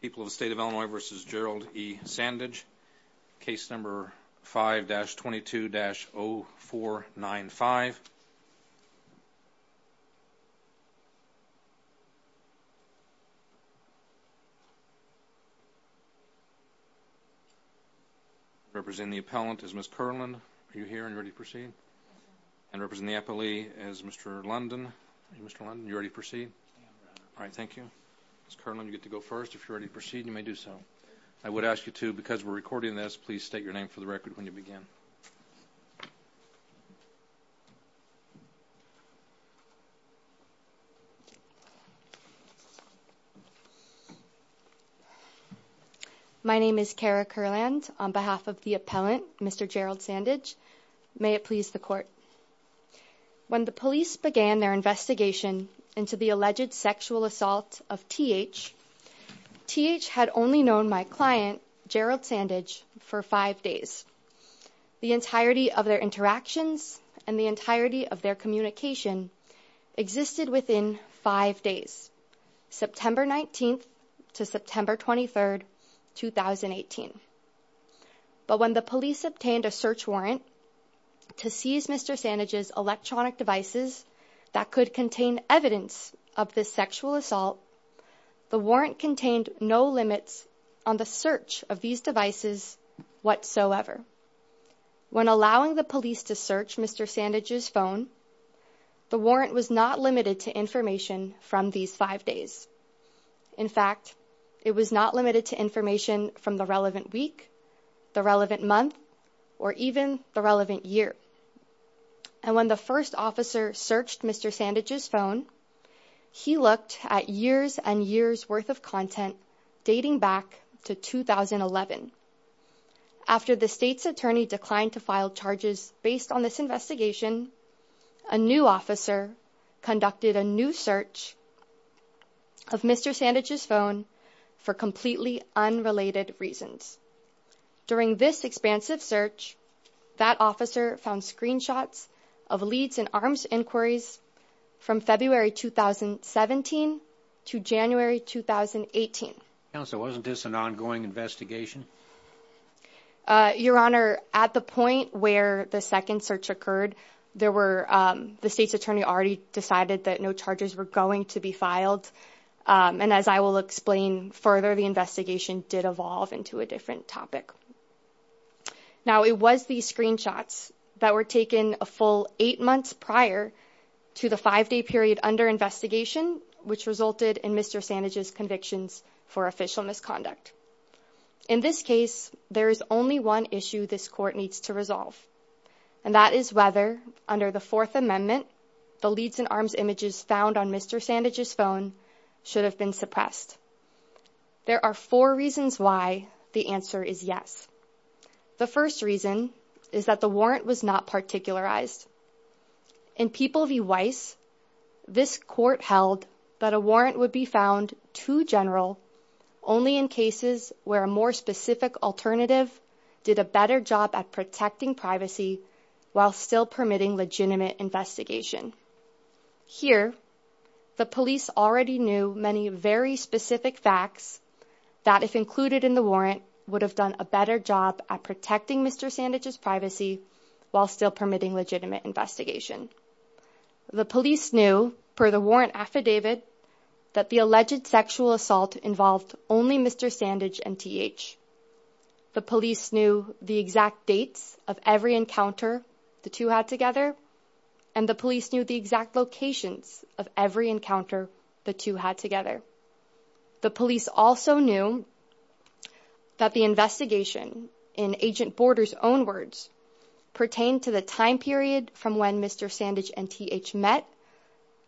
People of the State of Illinois v. Gerald E. Sandage, Case No. 5-22-0495 Representing the appellant is Ms. Kerland. Are you here and ready to proceed? And representing the appellee is Mr. London. Mr. London, are you ready to proceed? Alright, thank you. Ms. Kerland, you get to go first. If you're ready to proceed, you may do so. I would ask you to, because we're recording this, please state your name for the record when you begin. My name is Kara Kerland. On behalf of the appellant, Mr. Gerald Sandage, may it please the court. When the police began their investigation into the alleged sexual assault of T.H., T.H. had only known my client, Gerald Sandage, for five days. The entirety of their interactions and the entirety of their communication existed within five days, September 19th to September 23rd, 2018. But when the police obtained a search warrant to seize Mr. Sandage's electronic devices that could contain evidence of this sexual assault, the warrant contained no limits on the search of these devices whatsoever. When allowing the police to search Mr. Sandage's phone, the warrant was not limited to information from these five days. In fact, it was not limited to information from the relevant week, the relevant month, or even the relevant year. And when the first officer searched Mr. Sandage's phone, he looked at years and years worth of content dating back to 2011. After the state's attorney declined to file charges based on this investigation, a new officer conducted a new search of Mr. Sandage's phone for completely unrelated reasons. During this expansive search, that officer found screenshots of leads in arms inquiries from February 2017 to January 2018. Counsel, wasn't this an ongoing investigation? Your Honor, at the point where the second search occurred, the state's attorney already decided that no charges were going to be filed. And as I will explain further, the investigation did evolve into a different topic. Now, it was these screenshots that were taken a full eight months prior to the five-day period under investigation, which resulted in Mr. Sandage's convictions for official misconduct. In this case, there is only one issue this court needs to resolve, and that is whether, under the Fourth Amendment, the leads in arms images found on Mr. Sandage's phone should have been suppressed. There are four reasons why the answer is yes. The first reason is that the warrant was not particularized. In People v. Weiss, this court held that a warrant would be found too general only in cases where a more specific alternative did a better job at protecting privacy while still permitting legitimate investigation. Here, the police already knew many very specific facts that, if included in the warrant, would have done a better job at protecting Mr. Sandage's privacy while still permitting legitimate investigation. The police knew, per the warrant affidavit, that the alleged sexual assault involved only Mr. Sandage and T.H. The police knew the exact dates of every encounter the two had together, and the police knew the exact locations of every encounter the two had together. The police also knew that the investigation, in Agent Border's own words, pertained to the time period from when Mr. Sandage and T.H. met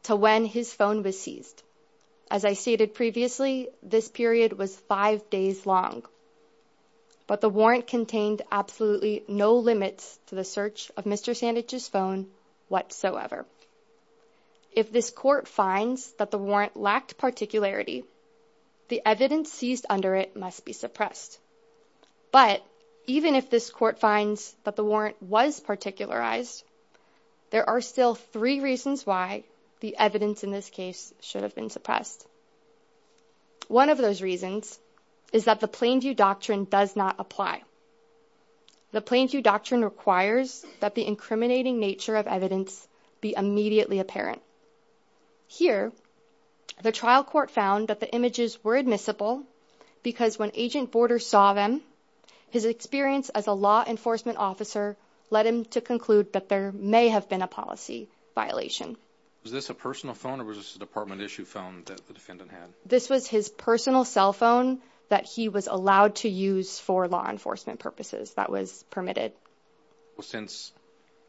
to when his phone was seized. As I stated previously, this period was five days long, but the warrant contained absolutely no limits to the search of Mr. Sandage's phone whatsoever. If this court finds that the warrant lacked particularity, the evidence seized under it must be suppressed. But even if this court finds that the warrant was particularized, there are still three reasons why the evidence in this case should have been suppressed. One of those reasons is that the Plainview Doctrine does not apply. The Plainview Doctrine requires that the incriminating nature of evidence be immediately apparent. Here, the trial court found that the images were admissible because when Agent Border saw them, his experience as a law enforcement officer led him to conclude that there may have been a policy violation. Was this a personal phone or was this a department-issue phone that the defendant had? This was his personal cell phone that he was allowed to use for law enforcement purposes that was permitted. Well, since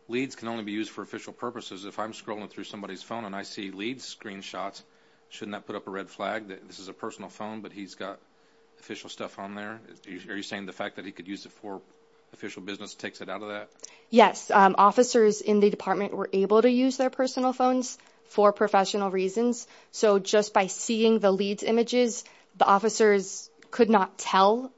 leads can only be used for official purposes, if I'm scrolling through somebody's phone and I see leads, screenshots, shouldn't that put up a red flag that this is a personal phone but he's got official stuff on there? Are you saying the fact that he could use it for official business takes it out of that? Yes. Officers in the department were able to use their personal phones for professional reasons. So just by seeing the leads images, the officers could not tell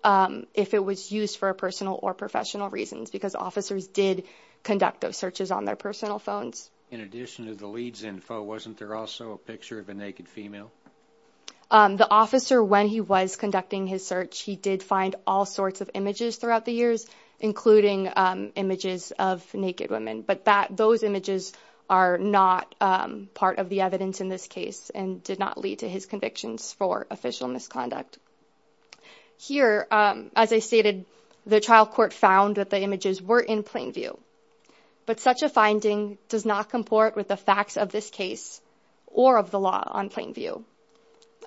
if it was used for personal or professional reasons because officers did conduct those searches on their personal phones. In addition to the leads info, wasn't there also a picture of a naked female? The officer, when he was conducting his search, he did find all sorts of images throughout the years, including images of naked women. But those images are not part of the evidence in this case and did not lead to his convictions for official misconduct. Here, as I stated, the trial court found that the images were in plain view. But such a finding does not comport with the facts of this case or of the law on plain view.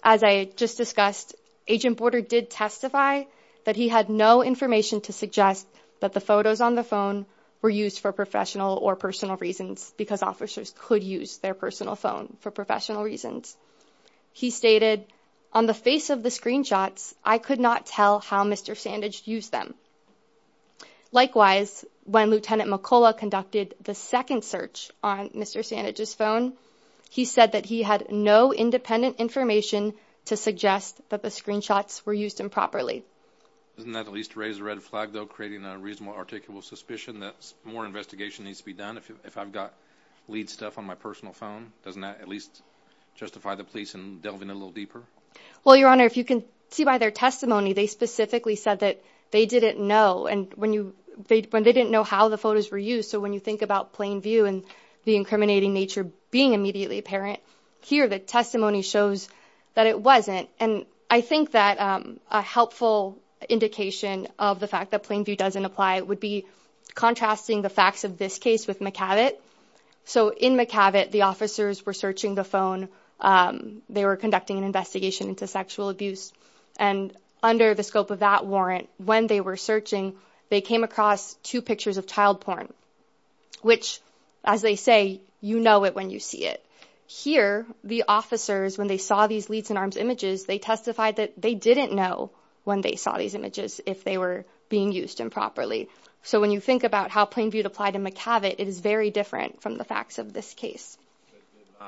As I just discussed, Agent Border did testify that he had no information to suggest that the photos on the phone were used for professional or personal reasons because officers could use their personal phone for professional reasons. He stated on the face of the screenshots, I could not tell how Mr. Sandage used them. Likewise, when Lieutenant McCullough conducted the second search on Mr. Sandage's phone, he said that he had no independent information to suggest that the screenshots were used improperly. Doesn't that at least raise a red flag, though, creating a reasonable articulable suspicion that more investigation needs to be done? If I've got lead stuff on my personal phone, doesn't that at least justify the police delving a little deeper? Well, Your Honor, if you can see by their testimony, they specifically said that they didn't know. And when they didn't know how the photos were used. So when you think about plain view and the incriminating nature being immediately apparent here, the testimony shows that it wasn't. And I think that a helpful indication of the fact that plain view doesn't apply would be contrasting the facts of this case with McCabot. So in McCabot, the officers were searching the phone. They were conducting an investigation into sexual abuse. And under the scope of that warrant, when they were searching, they came across two pictures of child porn, which, as they say, you know it when you see it here. The officers, when they saw these leads in arms images, they testified that they didn't know when they saw these images, if they were being used improperly. So when you think about how plain view to apply to McCabot, it is very different from the facts of this case. Did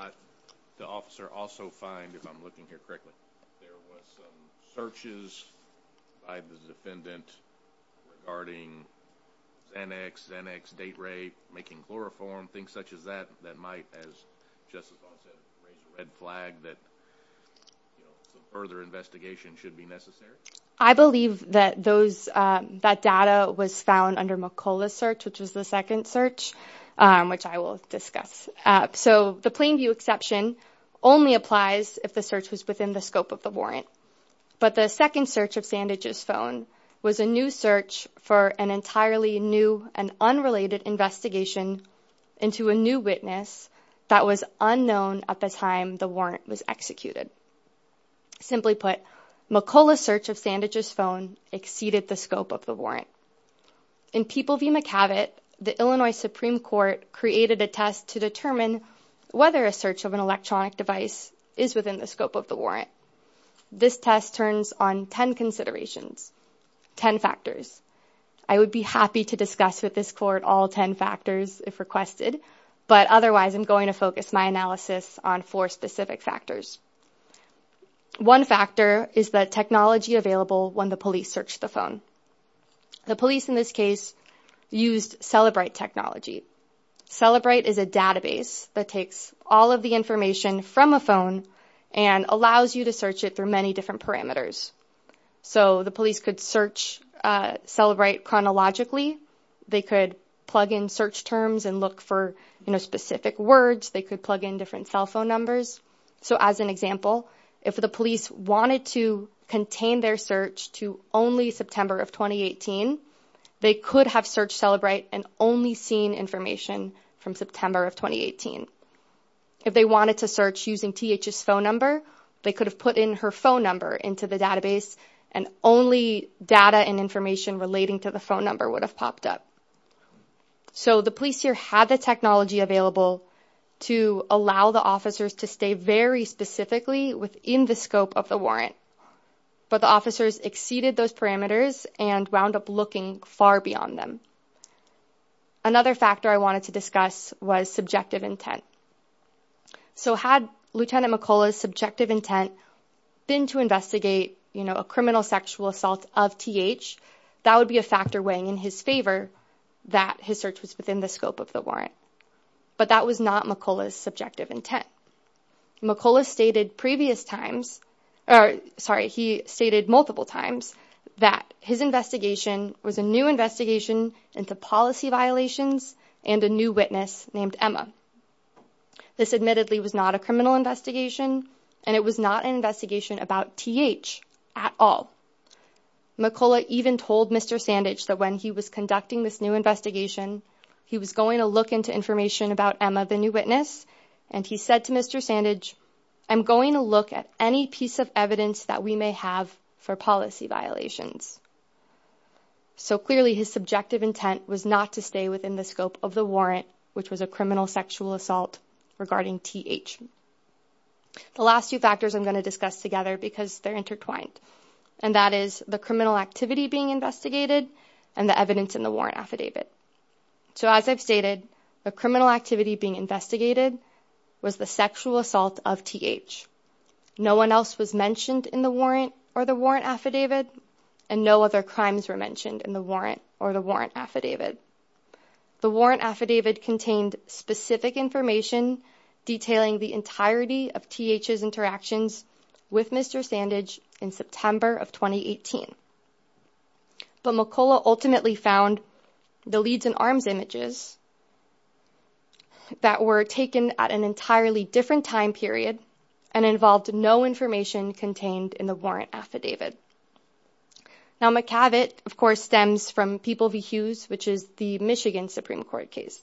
the officer also find, if I'm looking here correctly, there was some searches by the defendant regarding Xanax, Xanax, date rape, making chloroform, things such as that, that might, as Justice Vaughn said, raise a red flag, that further investigation should be necessary? I believe that those that data was found under McCullough's search, which was the second search, which I will discuss. So the plain view exception only applies if the search was within the scope of the warrant. But the second search of Sandage's phone was a new search for an entirely new and unrelated investigation into a new witness that was unknown at the time the warrant was executed. Simply put, McCullough's search of Sandage's phone exceeded the scope of the warrant. In People v. McCabot, the Illinois Supreme Court created a test to determine whether a search of an electronic device is within the scope of the warrant. This test turns on 10 considerations, 10 factors. I would be happy to discuss with this court all 10 factors if requested, but otherwise I'm going to focus my analysis on four specific factors. One factor is the technology available when the police search the phone. The police in this case used Celebrite technology. Celebrite is a database that takes all of the information from a phone and allows you to search it through many different parameters. So the police could search Celebrite chronologically. They could plug in search terms and look for specific words. They could plug in different cell phone numbers. So as an example, if the police wanted to contain their search to only September of 2018, they could have searched Celebrite and only seen information from September of 2018. If they wanted to search using TH's phone number, they could have put in her phone number into the database and only data and information relating to the phone number would have popped up. So the police here had the technology available to allow the officers to stay very specifically within the scope of the warrant, but the officers exceeded those parameters and wound up looking far beyond them. Another factor I wanted to discuss was subjective intent. So had Lieutenant McCullough's subjective intent been to investigate a criminal sexual assault of TH, that would be a factor weighing in his favor that his search was within the scope of the warrant. But that was not McCullough's subjective intent. McCullough stated multiple times that his investigation was a new investigation into policy violations and a new witness named Emma. This admittedly was not a criminal investigation, and it was not an investigation about TH at all. McCullough even told Mr. Sandage that when he was conducting this new investigation, he was going to look into information about Emma, the new witness, and he said to Mr. Sandage, I'm going to look at any piece of evidence that we may have for policy violations. So clearly, his subjective intent was not to stay within the scope of the warrant, which was a criminal sexual assault regarding TH. The last two factors I'm going to discuss together because they're intertwined, and that is the criminal activity being investigated and the evidence in the warrant affidavit. So as I've stated, the criminal activity being investigated was the sexual assault of TH. No one else was mentioned in the warrant or the warrant affidavit, and no other crimes were mentioned in the warrant or the warrant affidavit. The warrant affidavit contained specific information detailing the entirety of TH's interactions with Mr. Sandage in September of 2018. But McCullough ultimately found the leads in arms images that were taken at an entirely different time period and involved no information contained in the warrant affidavit. Now, McCavitt, of course, stems from People v. Hughes, which is the Michigan Supreme Court case.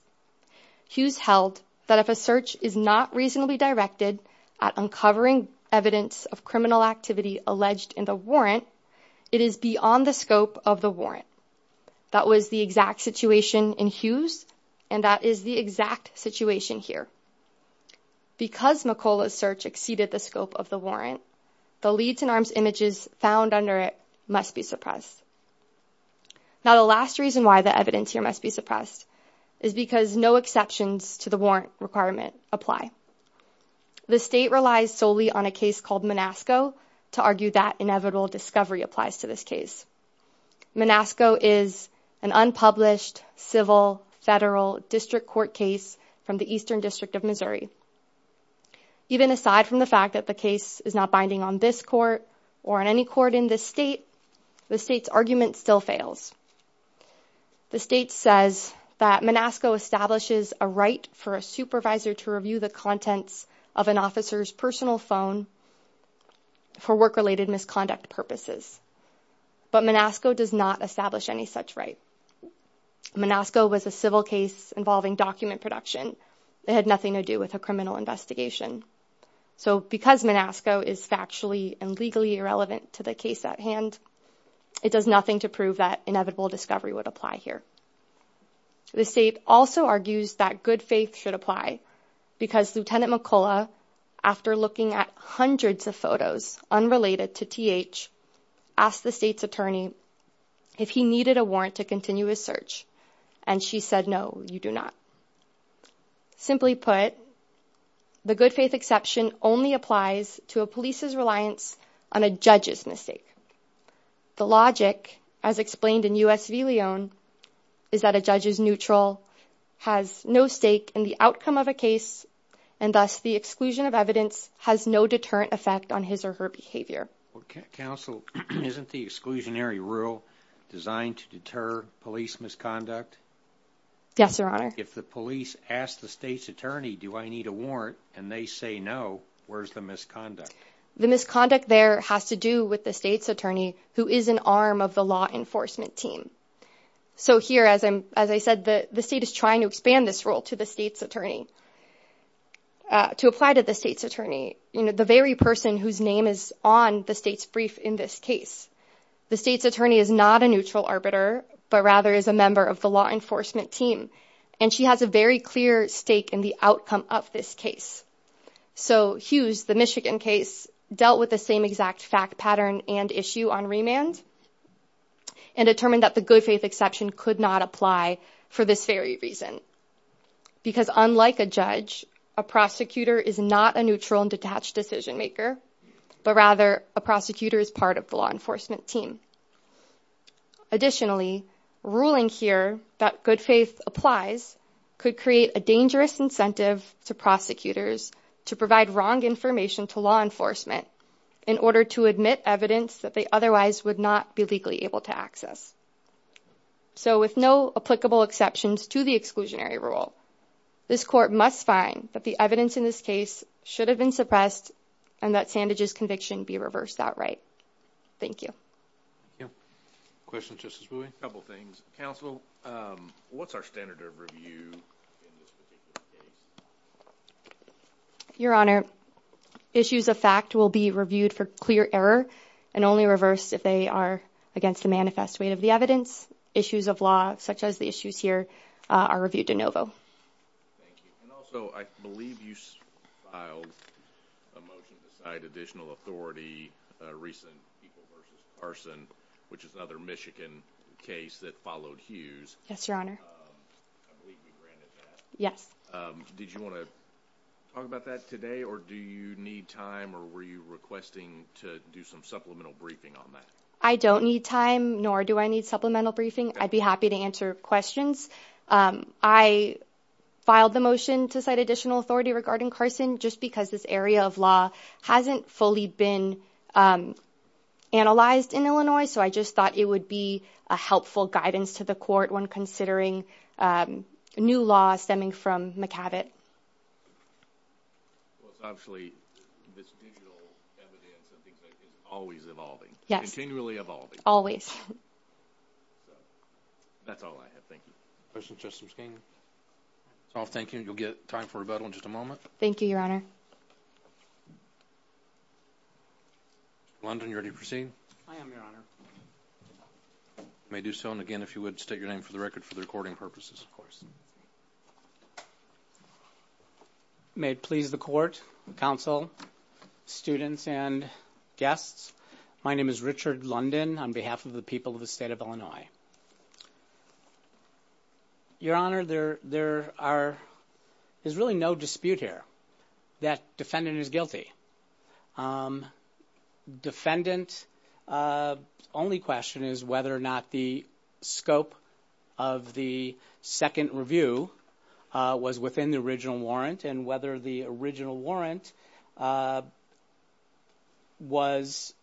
Hughes held that if a search is not reasonably directed at uncovering evidence of criminal activity alleged in the warrant, it is beyond the scope of the warrant. That was the exact situation in Hughes, and that is the exact situation here. Because McCullough's search exceeded the scope of the warrant, the leads in arms images found under it must be suppressed. Now, the last reason why the evidence here must be suppressed is because no exceptions to the warrant requirement apply. The state relies solely on a case called Monasco to argue that inevitable discovery applies to this case. Monasco is an unpublished civil federal district court case from the Eastern District of Missouri. Even aside from the fact that the case is not binding on this court or on any court in this state, the state's argument still fails. The state says that Monasco establishes a right for a supervisor to review the contents of an officer's personal phone for work-related misconduct purposes. But Monasco does not establish any such right. Monasco was a civil case involving document production. It had nothing to do with a criminal investigation. So because Monasco is factually and legally irrelevant to the case at hand, it does nothing to prove that inevitable discovery would apply here. The state also argues that good faith should apply because Lieutenant McCullough, after looking at hundreds of photos unrelated to TH, asked the state's attorney if he needed a warrant to continue his search, and she said, no, you do not. Simply put, the good faith exception only applies to a police's reliance on a judge's mistake. The logic, as explained in U.S. v. Lyon, is that a judge's neutral has no stake in the outcome of a case, and thus the exclusion of evidence has no deterrent effect on his or her behavior. Counsel, isn't the exclusionary rule designed to deter police misconduct? Yes, Your Honor. If the police ask the state's attorney, do I need a warrant, and they say no, where's the misconduct? The misconduct there has to do with the state's attorney, who is an arm of the law enforcement team. So here, as I said, the state is trying to expand this rule to the state's attorney, to apply to the state's attorney, the very person whose name is on the state's brief in this case. The state's attorney is not a neutral arbiter, but rather is a member of the law enforcement team, and she has a very clear stake in the outcome of this case. So Hughes, the Michigan case, dealt with the same exact fact pattern and issue on remand and determined that the good faith exception could not apply for this very reason. Because unlike a judge, a prosecutor is not a neutral and detached decision maker, but rather a prosecutor is part of the law enforcement team. Additionally, ruling here that good faith applies could create a dangerous incentive to prosecutors to provide wrong information to law enforcement in order to admit evidence that they otherwise would not be legally able to access. So with no applicable exceptions to the exclusionary rule, this court must find that the evidence in this case should have been suppressed and that Sandage's conviction be reversed that right. Thank you. Questions, Justice Booey? A couple things. Counsel, what's our standard of review in this particular case? Your Honor, issues of fact will be reviewed for clear error and only reversed if they are against the manifest weight of the evidence. Issues of law, such as the issues here, are reviewed de novo. Thank you. And also, I believe you filed a motion to cite additional authority, recent people versus Carson, which is another Michigan case that followed Hughes. Yes, Your Honor. I believe you granted that. Yes. Did you want to talk about that today, or do you need time, or were you requesting to do some supplemental briefing on that? I don't need time, nor do I need supplemental briefing. I'd be happy to answer questions. I filed the motion to cite additional authority regarding Carson just because this area of law hasn't fully been analyzed in Illinois, so I just thought it would be a helpful guidance to the court when considering a new law stemming from McAvitt. Well, it's obviously this digital evidence and things like that is always evolving. Yes. Continually evolving. Always. So, that's all I have. Thank you. Questions, Justice McKeon? I'll thank you, and you'll get time for rebuttal in just a moment. Thank you, Your Honor. London, are you ready to proceed? I am, Your Honor. You may do so, and again, if you would, state your name for the record for the recording purposes. Of course. May it please the court, counsel, students, and guests, my name is Richard London on behalf of the people of the state of Illinois. Your Honor, there is really no dispute here that defendant is guilty. Defendant's only question is whether or not the scope of the second review was within the original warrant and whether the original warrant was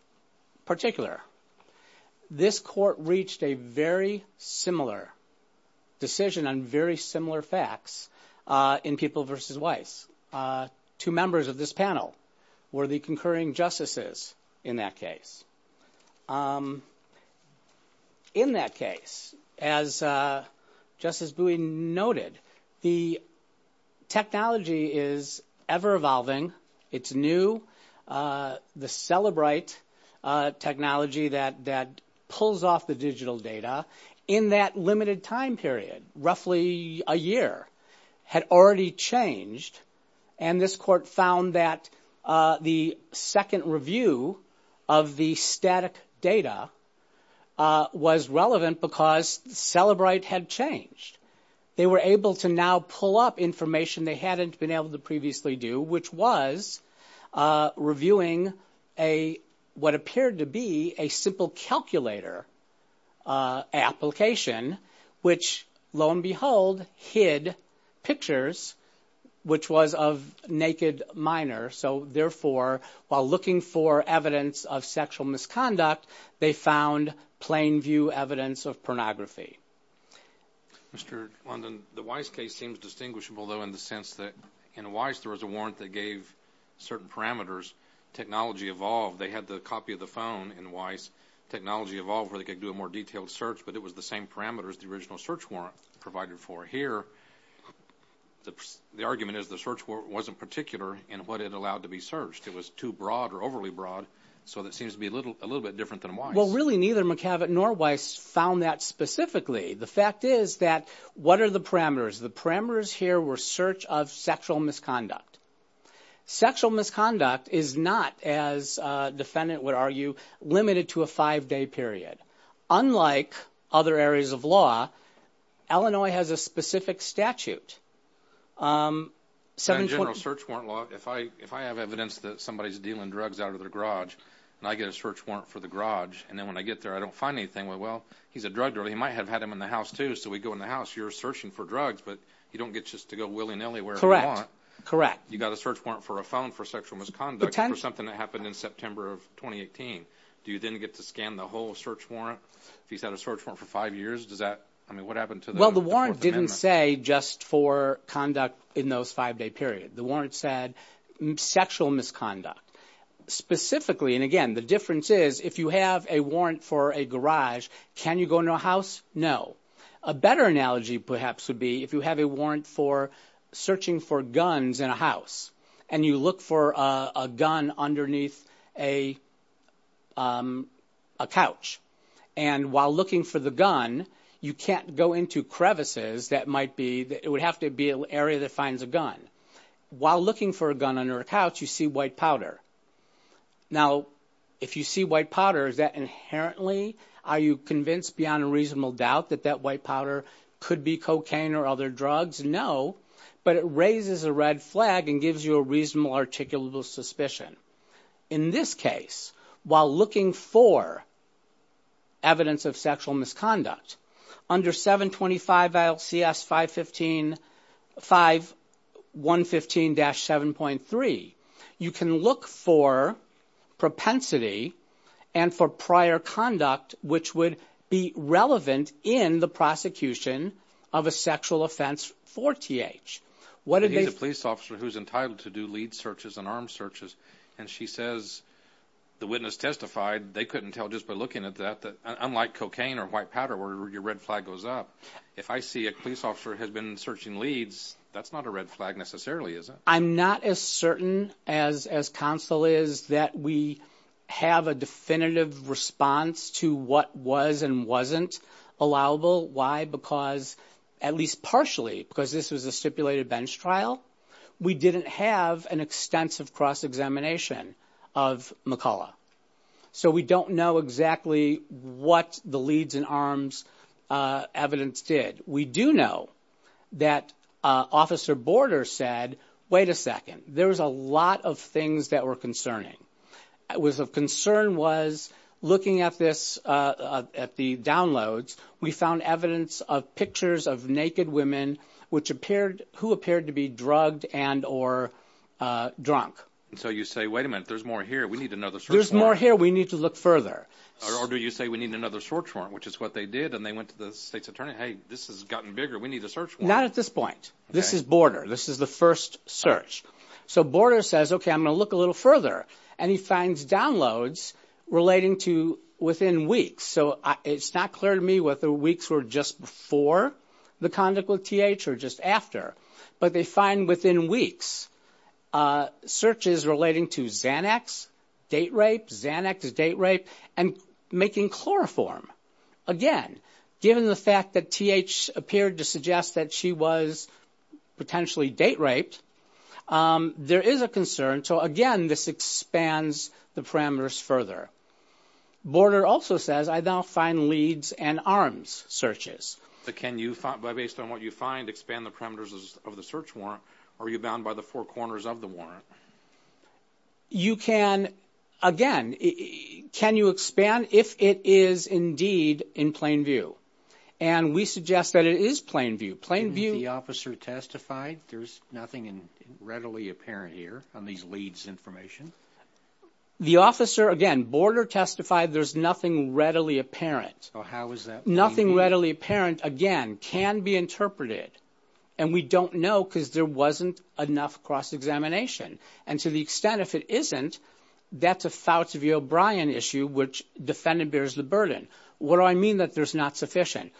particular. This court reached a very similar decision on very similar facts in People v. Weiss. Two members of this panel were the concurring justices in that case. In that case, as Justice Bowie noted, the technology is ever-evolving. It's new. The Cellebrite technology that pulls off the digital data in that limited time period, roughly a year, had already changed, and this court found that the second review of the static data was relevant because Cellebrite had changed. They were able to now pull up information they hadn't been able to previously do, which was reviewing what appeared to be a simple calculator application, which, lo and behold, hid pictures, which was of naked minors. So, therefore, while looking for evidence of sexual misconduct, they found plain view evidence of pornography. Mr. London, the Weiss case seems distinguishable, though, in the sense that in Weiss, there was a warrant that gave certain parameters. Technology evolved. They had the copy of the phone in Weiss. Technology evolved where they could do a more detailed search, but it was the same parameters the original search warrant provided for. Here, the argument is the search warrant wasn't particular in what it allowed to be searched. It was too broad or overly broad, so that seems to be a little bit different than Weiss. Well, really, neither McAvett nor Weiss found that specifically. The fact is that what are the parameters? The parameters here were search of sexual misconduct. Sexual misconduct is not, as a defendant would argue, limited to a five-day period. Unlike other areas of law, Illinois has a specific statute. In general search warrant law, if I have evidence that somebody's dealing drugs out of their garage and I get a search warrant for the garage, and then when I get there, I don't find anything, well, he's a drug dealer. He might have had them in the house, too, so we go in the house. You're searching for drugs, but you don't get just to go willy-nilly wherever you want. Correct. You got a search warrant for a phone for sexual misconduct for something that happened in September of 2018. Do you then get to scan the whole search warrant? If he's had a search warrant for five years, does that – I mean, what happened to the Fourth Amendment? Well, the warrant didn't say just for conduct in those five-day period. The warrant said sexual misconduct. Specifically, and again, the difference is if you have a warrant for a garage, can you go in a house? No. A better analogy perhaps would be if you have a warrant for searching for guns in a house and you look for a gun underneath a couch, and while looking for the gun, you can't go into crevices that might be – it would have to be an area that finds a gun. While looking for a gun under a couch, you see white powder. Now, if you see white powder, is that inherently – are you convinced beyond a reasonable doubt that that white powder could be cocaine or other drugs? No, but it raises a red flag and gives you a reasonable articulable suspicion. In this case, while looking for evidence of sexual misconduct, under 725 LCS 515-7.3, you can look for propensity and for prior conduct which would be relevant in the prosecution of a sexual offense for TH. He's a police officer who's entitled to do lead searches and armed searches, and she says the witness testified they couldn't tell just by looking at that unlike cocaine or white powder where your red flag goes up. If I see a police officer has been searching leads, that's not a red flag necessarily, is it? I'm not as certain as counsel is that we have a definitive response to what was and wasn't allowable. Why? Because at least partially, because this was a stipulated bench trial, we didn't have an extensive cross-examination of McCullough. So we don't know exactly what the leads and arms evidence did. We do know that Officer Border said, wait a second, there was a lot of things that were concerning. What was of concern was looking at this at the downloads, we found evidence of pictures of naked women who appeared to be drugged and or drunk. So you say, wait a minute, there's more here. We need another search warrant. There's more here. We need to look further. Or do you say we need another search warrant, which is what they did, and they went to the state's attorney. Hey, this has gotten bigger. We need a search warrant. Not at this point. This is Border. This is the first search. So Border says, OK, I'm going to look a little further, and he finds downloads relating to within weeks. So it's not clear to me whether weeks were just before the conduct with TH or just after, but they find within weeks searches relating to Xanax, date rape, Xanax, date rape, and making chloroform. Again, given the fact that TH appeared to suggest that she was potentially date raped, there is a concern. So, again, this expands the parameters further. Border also says, I now find leads and arms searches. But can you, based on what you find, expand the parameters of the search warrant? Are you bound by the four corners of the warrant? You can. Again, can you expand if it is indeed in plain view? And we suggest that it is plain view. Plain view. The officer testified there's nothing readily apparent here on these leads information. The officer, again, Border testified there's nothing readily apparent. So how is that plain view? Nothing readily apparent, again, can be interpreted. And we don't know because there wasn't enough cross-examination. And to the extent if it isn't, that's a Fauci v. O'Brien issue, which the defendant bears the burden. What do I mean that there's not sufficient?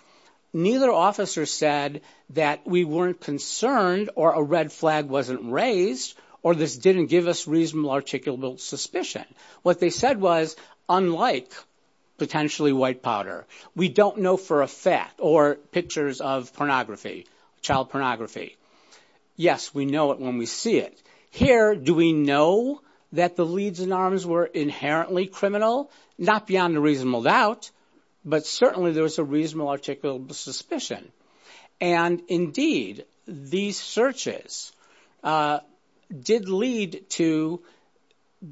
Neither officer said that we weren't concerned or a red flag wasn't raised or this didn't give us reasonable articulable suspicion. What they said was, unlike potentially white powder, we don't know for a fact or pictures of pornography, child pornography. Yes, we know it when we see it. Here, do we know that the leads and arms were inherently criminal? Not beyond a reasonable doubt, but certainly there was a reasonable articulable suspicion. And indeed, these searches did lead to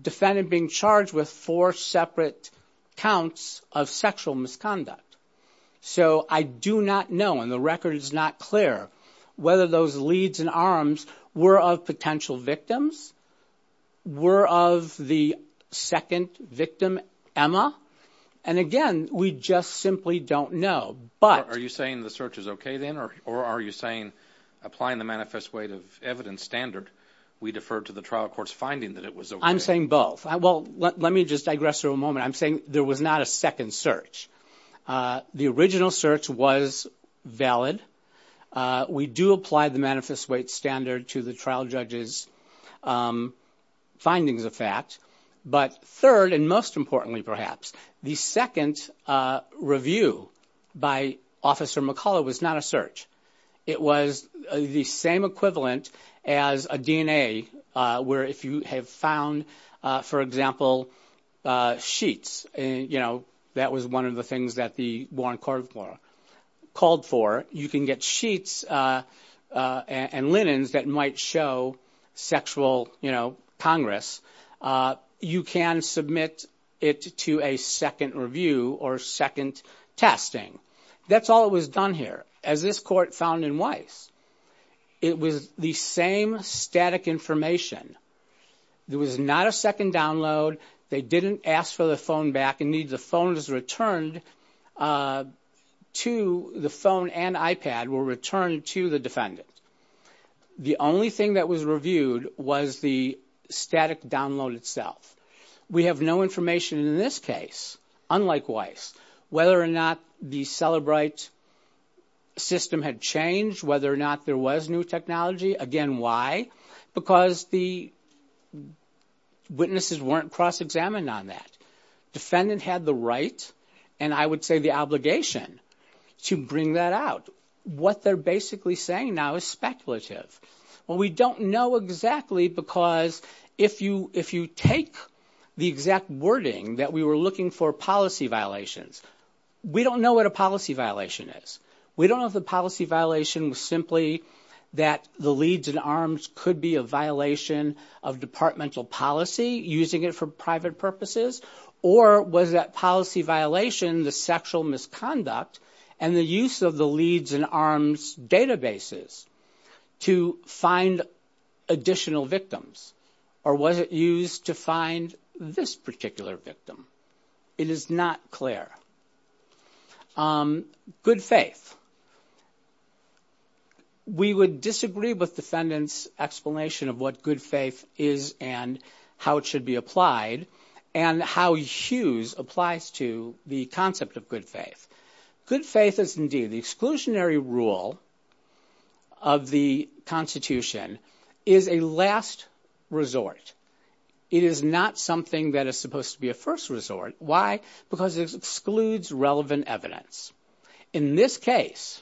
defendant being charged with four separate counts of sexual misconduct. So I do not know. And the record is not clear whether those leads and arms were of potential victims, were of the second victim, Emma. And again, we just simply don't know. But are you saying the search is OK then? Or are you saying applying the manifest weight of evidence standard, we defer to the trial court's finding that it was? I'm saying both. Well, let me just digress for a moment. I'm saying there was not a second search. The original search was valid. We do apply the manifest weight standard to the trial judge's findings of fact. But third and most importantly, perhaps, the second review by Officer McCullough was not a search. It was the same equivalent as a DNA where if you have found, for example, sheets, you know, that was one of the things that the Warren Court of Law called for. You can get sheets and linens that might show sexual, you know, Congress. You can submit it to a second review or second testing. That's all it was done here. As this court found in Weiss, it was the same static information. There was not a second download. They didn't ask for the phone back. Indeed, the phone was returned to the phone and iPad were returned to the defendant. The only thing that was reviewed was the static download itself. We have no information in this case, unlike Weiss, whether or not the Celebrite system had changed, whether or not there was new technology. Again, why? Because the witnesses weren't cross-examined on that. Defendant had the right and I would say the obligation to bring that out. What they're basically saying now is speculative. Well, we don't know exactly because if you take the exact wording that we were looking for policy violations, we don't know what a policy violation is. We don't know if the policy violation was simply that the Leeds and Arms could be a violation of departmental policy, using it for private purposes, or was that policy violation the sexual misconduct and the use of the Leeds and Arms databases to find additional victims, or was it used to find this particular victim? It is not clear. Good faith. We would disagree with defendant's explanation of what good faith is and how it should be applied and how Hughes applies to the concept of good faith. Good faith is indeed the exclusionary rule of the Constitution is a last resort. It is not something that is supposed to be a first resort. Why? Because it excludes relevant evidence. In this case,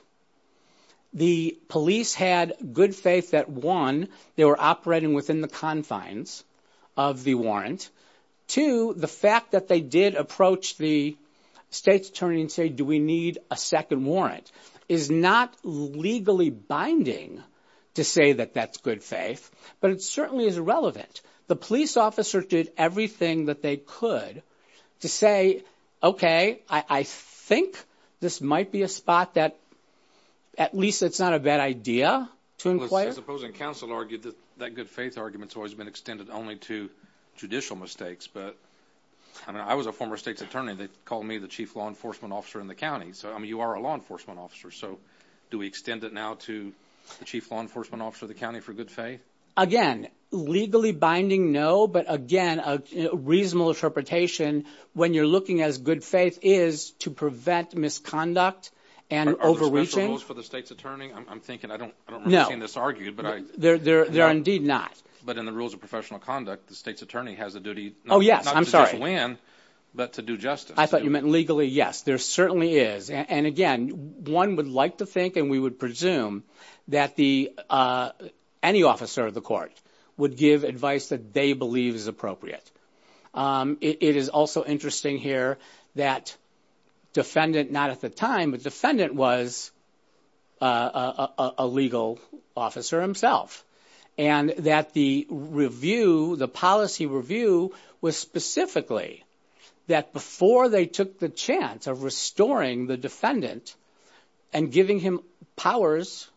the police had good faith that, one, they were operating within the confines of the warrant. Two, the fact that they did approach the state's attorney and say, do we need a second warrant, is not legally binding to say that that's good faith, but it certainly is relevant. The police officer did everything that they could to say, okay, I think this might be a spot that, at least it's not a bad idea to inquire. As opposing counsel argued, that good faith argument has always been extended only to judicial mistakes. But I was a former state's attorney. They called me the chief law enforcement officer in the county. So, I mean, you are a law enforcement officer. So do we extend it now to the chief law enforcement officer of the county for good faith? Again, legally binding, no. But, again, a reasonable interpretation when you're looking as good faith is to prevent misconduct and overreaching. Are there special rules for the state's attorney? I'm thinking I don't remember seeing this argued. No. There are indeed not. But in the rules of professional conduct, the state's attorney has a duty not to just win, but to do justice. I thought you meant legally, yes. There certainly is. And, again, one would like to think and we would presume that any officer of the court would give advice that they believe is appropriate. It is also interesting here that defendant, not at the time, but defendant was a legal officer himself. And that the review, the policy review was specifically that before they took the chance of restoring the defendant and giving him powers,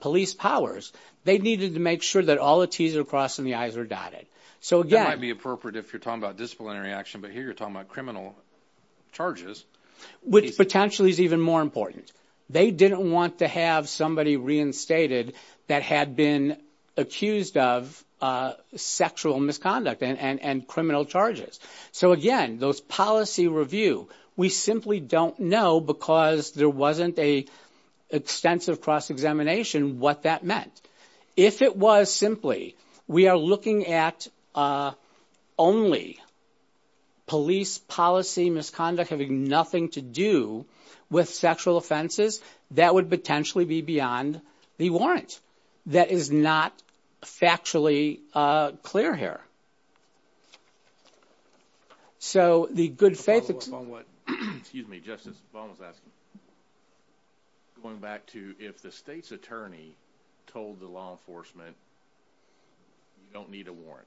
police powers, they needed to make sure that all the T's are crossed and the I's are dotted. So, again. That might be appropriate if you're talking about disciplinary action. But here you're talking about criminal charges. Which potentially is even more important. They didn't want to have somebody reinstated that had been accused of sexual misconduct and criminal charges. So, again, those policy review, we simply don't know because there wasn't an extensive cross-examination what that meant. If it was simply we are looking at only police policy misconduct having nothing to do with sexual offenses, that would potentially be beyond the warrant. That is not factually clear here. So, the good faith. Excuse me, Justice. Going back to if the state's attorney told the law enforcement you don't need a warrant.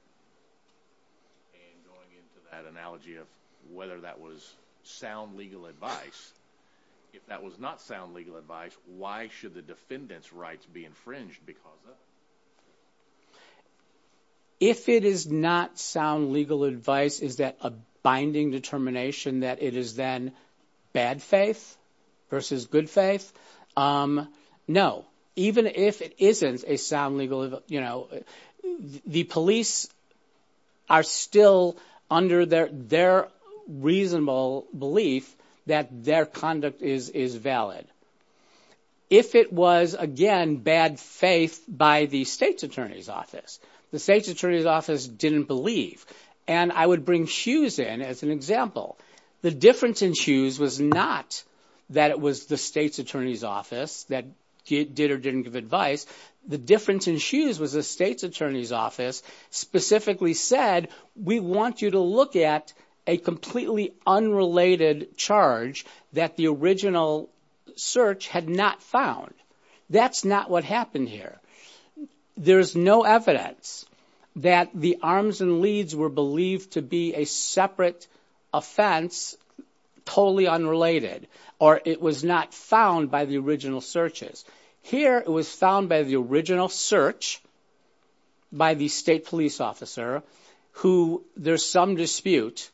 And going into that analogy of whether that was sound legal advice. If that was not sound legal advice, why should the defendant's rights be infringed because of that? If it is not sound legal advice, is that a binding determination that it is then bad faith versus good faith? No. Even if it isn't a sound legal, you know, the police are still under their reasonable belief that their conduct is valid. If it was, again, bad faith by the state's attorney's office, the state's attorney's office didn't believe. And I would bring Hughes in as an example. The difference in Hughes was not that it was the state's attorney's office that did or didn't give advice. The difference in Hughes was the state's attorney's office specifically said, we want you to look at a completely unrelated charge that the original search had not found. That's not what happened here. There's no evidence that the arms and leads were believed to be a separate offense, totally unrelated. Or it was not found by the original searches. Here it was found by the original search by the state police officer who there's some dispute.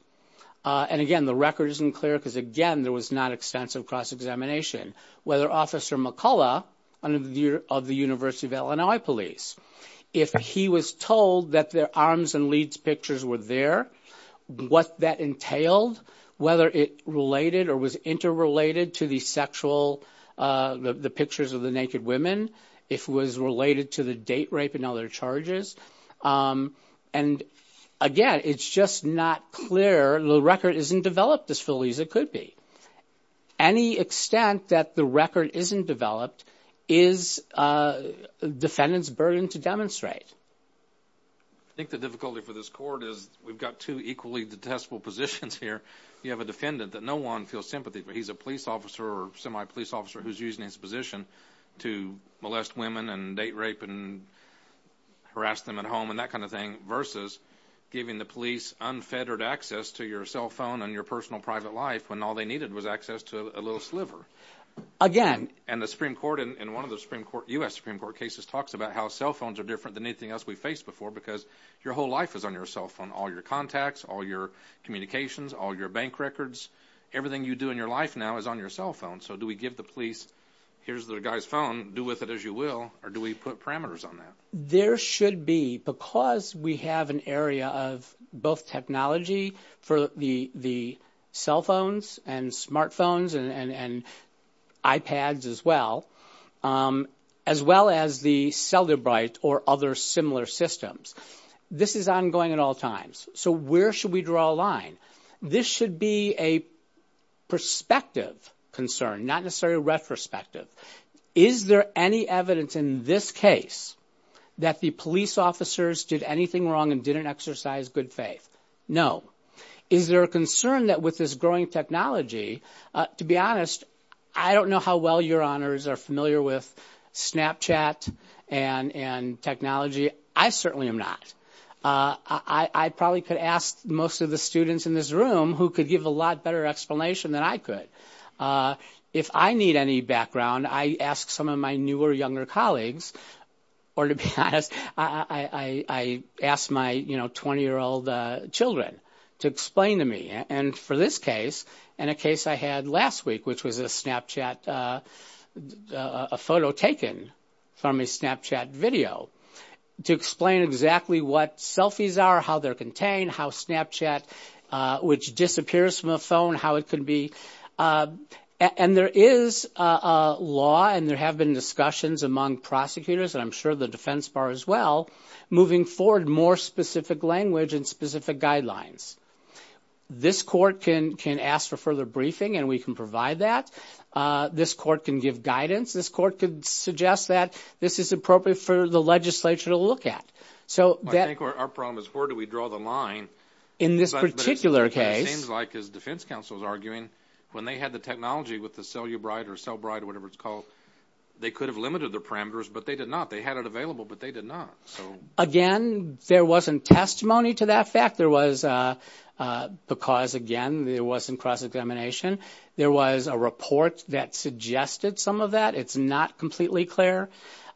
And again, the record isn't clear because, again, there was not extensive cross-examination. Whether Officer McCullough of the University of Illinois police, if he was told that their arms and leads pictures were there, what that entailed, whether it related or was interrelated to the sexual, the pictures of the naked women, if it was related to the date rape and other charges. And again, it's just not clear. The record isn't developed as fully as it could be. Any extent that the record isn't developed is a defendant's burden to demonstrate. I think the difficulty for this court is we've got two equally detestable positions here. You have a defendant that no one feels sympathy for. He's a police officer or semi-police officer who's using his position to molest women and date rape and harass them at home and that kind of thing versus giving the police unfettered access to your cell phone and your personal private life when all they needed was access to a little sliver. And the Supreme Court in one of the U.S. Supreme Court cases talks about how cell phones are different than anything else we've faced before because your whole life is on your cell phone. All your contacts, all your communications, all your bank records, everything you do in your life now is on your cell phone. So do we give the police, here's the guy's phone, do with it as you will, or do we put parameters on that? There should be, because we have an area of both technology for the cell phones and smart phones and iPads as well, as well as the Cellebrite or other similar systems, this is ongoing at all times. So where should we draw a line? This should be a perspective concern, not necessarily a retrospective. Is there any evidence in this case that the police officers did anything wrong and didn't exercise good faith? No. Is there a concern that with this growing technology, to be honest, I don't know how well your honors are familiar with Snapchat and technology. I certainly am not. I probably could ask most of the students in this room who could give a lot better explanation than I could. If I need any background, I ask some of my newer, younger colleagues, or to be honest, I ask my 20-year-old children to explain to me. And for this case and a case I had last week, which was a Snapchat, a photo taken from a Snapchat video, to explain exactly what selfies are, how they're contained, how Snapchat, which disappears from a phone, how it could be. And there is a law, and there have been discussions among prosecutors, and I'm sure the defense bar as well, moving forward more specific language and specific guidelines. This court can ask for further briefing, and we can provide that. This court can give guidance. This court could suggest that this is appropriate for the legislature to look at. I think our problem is where do we draw the line? In this particular case. But it seems like, as defense counsel is arguing, when they had the technology with the CelluBride or CellBride, whatever it's called, they could have limited the parameters, but they did not. They had it available, but they did not. Again, there wasn't testimony to that fact. There was because, again, there wasn't cross-examination. There was a report that suggested some of that. It's not completely clear.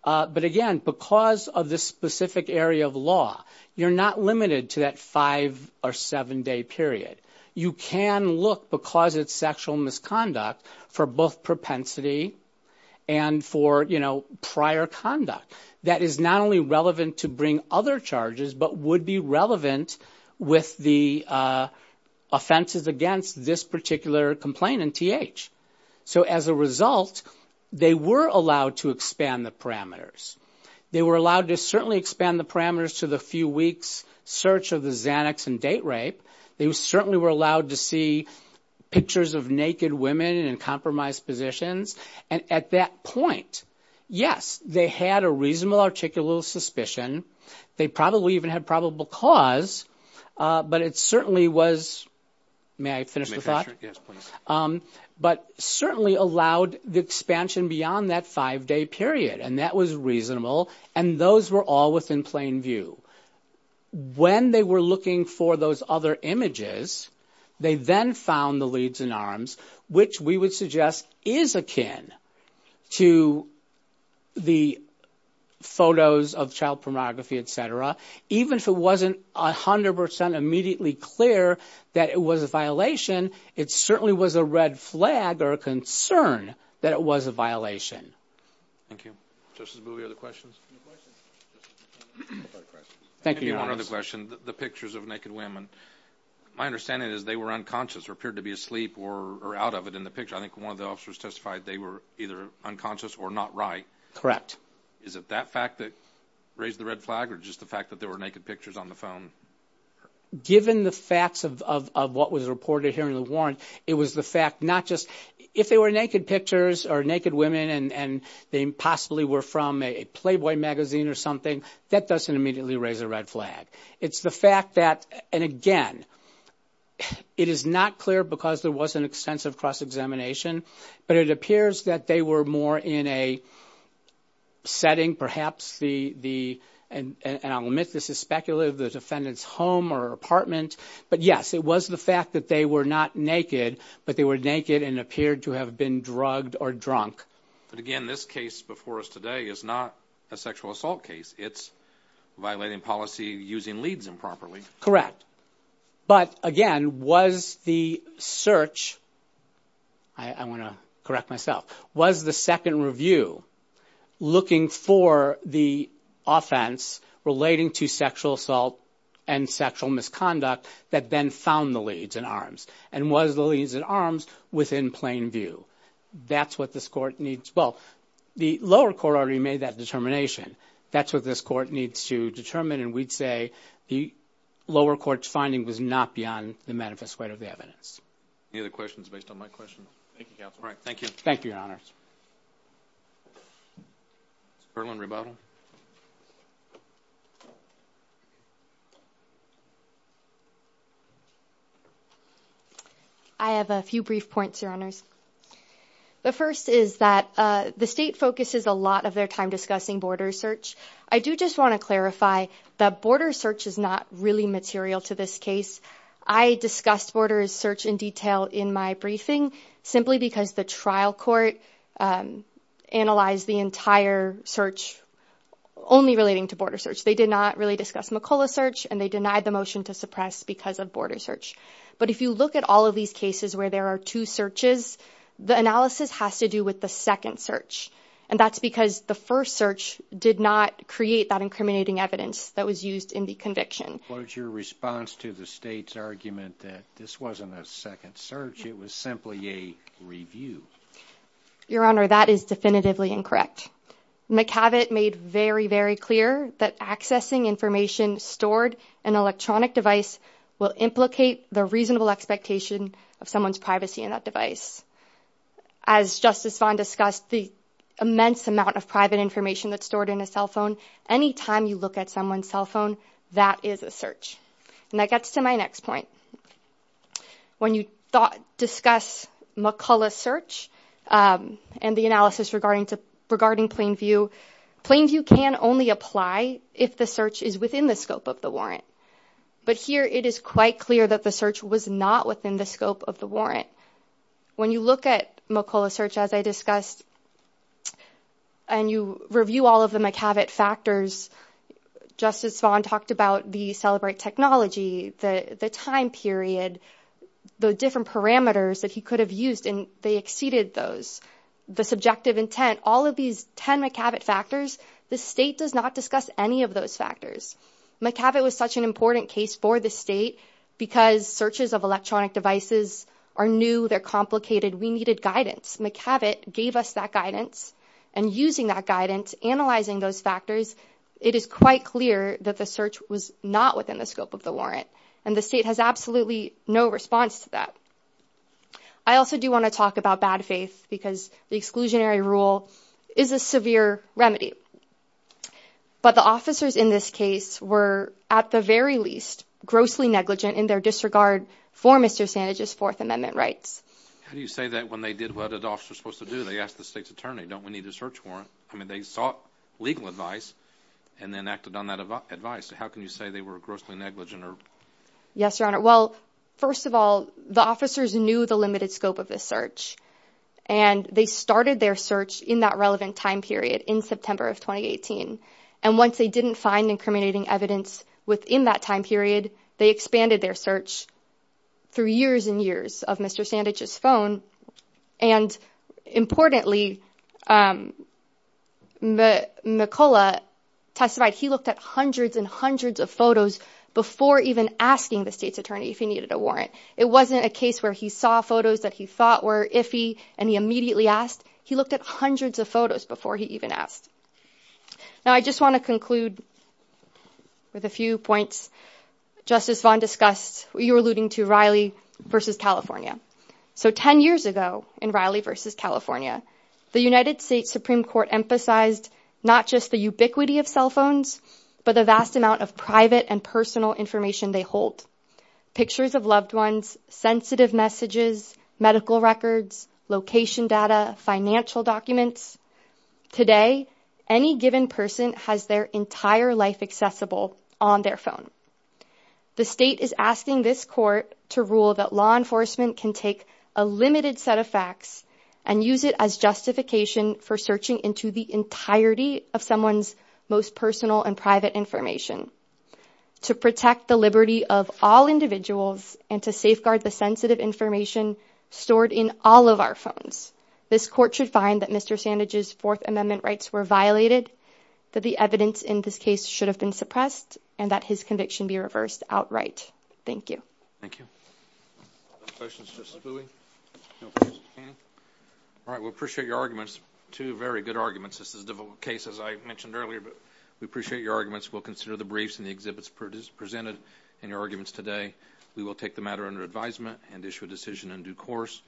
But, again, because of this specific area of law, you're not limited to that five- or seven-day period. You can look, because it's sexual misconduct, for both propensity and for prior conduct. That is not only relevant to bring other charges, but would be relevant with the offenses against this particular complaint in TH. So, as a result, they were allowed to expand the parameters. They were allowed to certainly expand the parameters to the few weeks' search of the Xanax and date rape. They certainly were allowed to see pictures of naked women in compromised positions. And at that point, yes, they had a reasonable articulal suspicion. They probably even had probable cause, but it certainly was – may I finish the thought? Yes, please. But certainly allowed the expansion beyond that five-day period, and that was reasonable. And those were all within plain view. When they were looking for those other images, they then found the leads in arms, which we would suggest is akin to the photos of child pornography, et cetera. Even if it wasn't 100 percent immediately clear that it was a violation, it certainly was a red flag or a concern that it was a violation. Thank you. Justice Booby, other questions? No questions. Thank you, Your Honor. One other question. The pictures of naked women, my understanding is they were unconscious or appeared to be asleep or out of it in the picture. I think one of the officers testified they were either unconscious or not right. Correct. So is it that fact that raised the red flag or just the fact that there were naked pictures on the phone? Given the facts of what was reported here in the warrant, it was the fact not just – if they were naked pictures or naked women and they possibly were from a Playboy magazine or something, that doesn't immediately raise a red flag. It's the fact that, and again, it is not clear because there wasn't extensive cross-examination, but it appears that they were more in a setting, perhaps the – and I'll admit this is speculative – the defendant's home or apartment. But, yes, it was the fact that they were not naked, but they were naked and appeared to have been drugged or drunk. But, again, this case before us today is not a sexual assault case. It's violating policy using leads improperly. Correct. But, again, was the search – I want to correct myself – was the second review looking for the offense relating to sexual assault and sexual misconduct that then found the leads in arms? And was the leads in arms within plain view? That's what this court needs – well, the lower court already made that determination. That's what this court needs to determine, and we'd say the lower court's finding was not beyond the manifest weight of the evidence. Any other questions based on my question? Thank you, counsel. All right, thank you. Thank you, Your Honors. Mr. Perlin, rebuttal. I have a few brief points, Your Honors. The first is that the state focuses a lot of their time discussing border search. I do just want to clarify that border search is not really material to this case. I discussed border search in detail in my briefing simply because the trial court analyzed the entire search only relating to border search. They did not really discuss McCulloch search, and they denied the motion to suppress because of border search. But if you look at all of these cases where there are two searches, the analysis has to do with the second search, and that's because the first search did not create that incriminating evidence that was used in the conviction. What is your response to the state's argument that this wasn't a second search, it was simply a review? Your Honor, that is definitively incorrect. McCabot made very, very clear that accessing information stored in an electronic device as Justice Vaughn discussed, the immense amount of private information that's stored in a cell phone, any time you look at someone's cell phone, that is a search. And that gets to my next point. When you discuss McCulloch search and the analysis regarding Plainview, Plainview can only apply if the search is within the scope of the warrant. But here it is quite clear that the search was not within the scope of the warrant. When you look at McCulloch search, as I discussed, and you review all of the McCabot factors, Justice Vaughn talked about the Celebrate technology, the time period, the different parameters that he could have used, and they exceeded those. The subjective intent, all of these 10 McCabot factors, the state does not discuss any of those factors. McCabot was such an important case for the state because searches of electronic devices are new, they're complicated, we needed guidance. McCabot gave us that guidance, and using that guidance, analyzing those factors, it is quite clear that the search was not within the scope of the warrant. And the state has absolutely no response to that. I also do want to talk about bad faith because the exclusionary rule is a severe remedy. But the officers in this case were, at the very least, grossly negligent in their disregard for Mr. Sandage's Fourth Amendment rights. How do you say that when they did what an officer is supposed to do? They asked the state's attorney, don't we need a search warrant? I mean, they sought legal advice and then acted on that advice. How can you say they were grossly negligent? Yes, Your Honor. Well, first of all, the officers knew the limited scope of this search, and they started their search in that relevant time period in September of 2018. And once they didn't find incriminating evidence within that time period, they expanded their search through years and years of Mr. Sandage's phone. And importantly, McCullough testified he looked at hundreds and hundreds of photos before even asking the state's attorney if he needed a warrant. It wasn't a case where he saw photos that he thought were iffy and he immediately asked. He looked at hundreds of photos before he even asked. Now, I just want to conclude with a few points Justice Vaughn discussed. You were alluding to Riley v. California. So 10 years ago in Riley v. California, the United States Supreme Court emphasized not just the ubiquity of cell phones, but the vast amount of private and personal information they hold. Pictures of loved ones, sensitive messages, medical records, location data, financial documents. Today, any given person has their entire life accessible on their phone. The state is asking this court to rule that law enforcement can take a limited set of facts and use it as justification for searching into the entirety of someone's most personal and private information. To protect the liberty of all individuals and to safeguard the sensitive information stored in all of our phones, this court should find that Mr. Sandage's Fourth Amendment rights were violated, that the evidence in this case should have been suppressed, and that his conviction be reversed outright. Thank you. Thank you. All right, we appreciate your arguments. Two very good arguments. This is a difficult case, as I mentioned earlier, but we appreciate your arguments. We'll consider the briefs and the exhibits presented and your arguments today. We will take the matter under advisement and issue a decision in due course.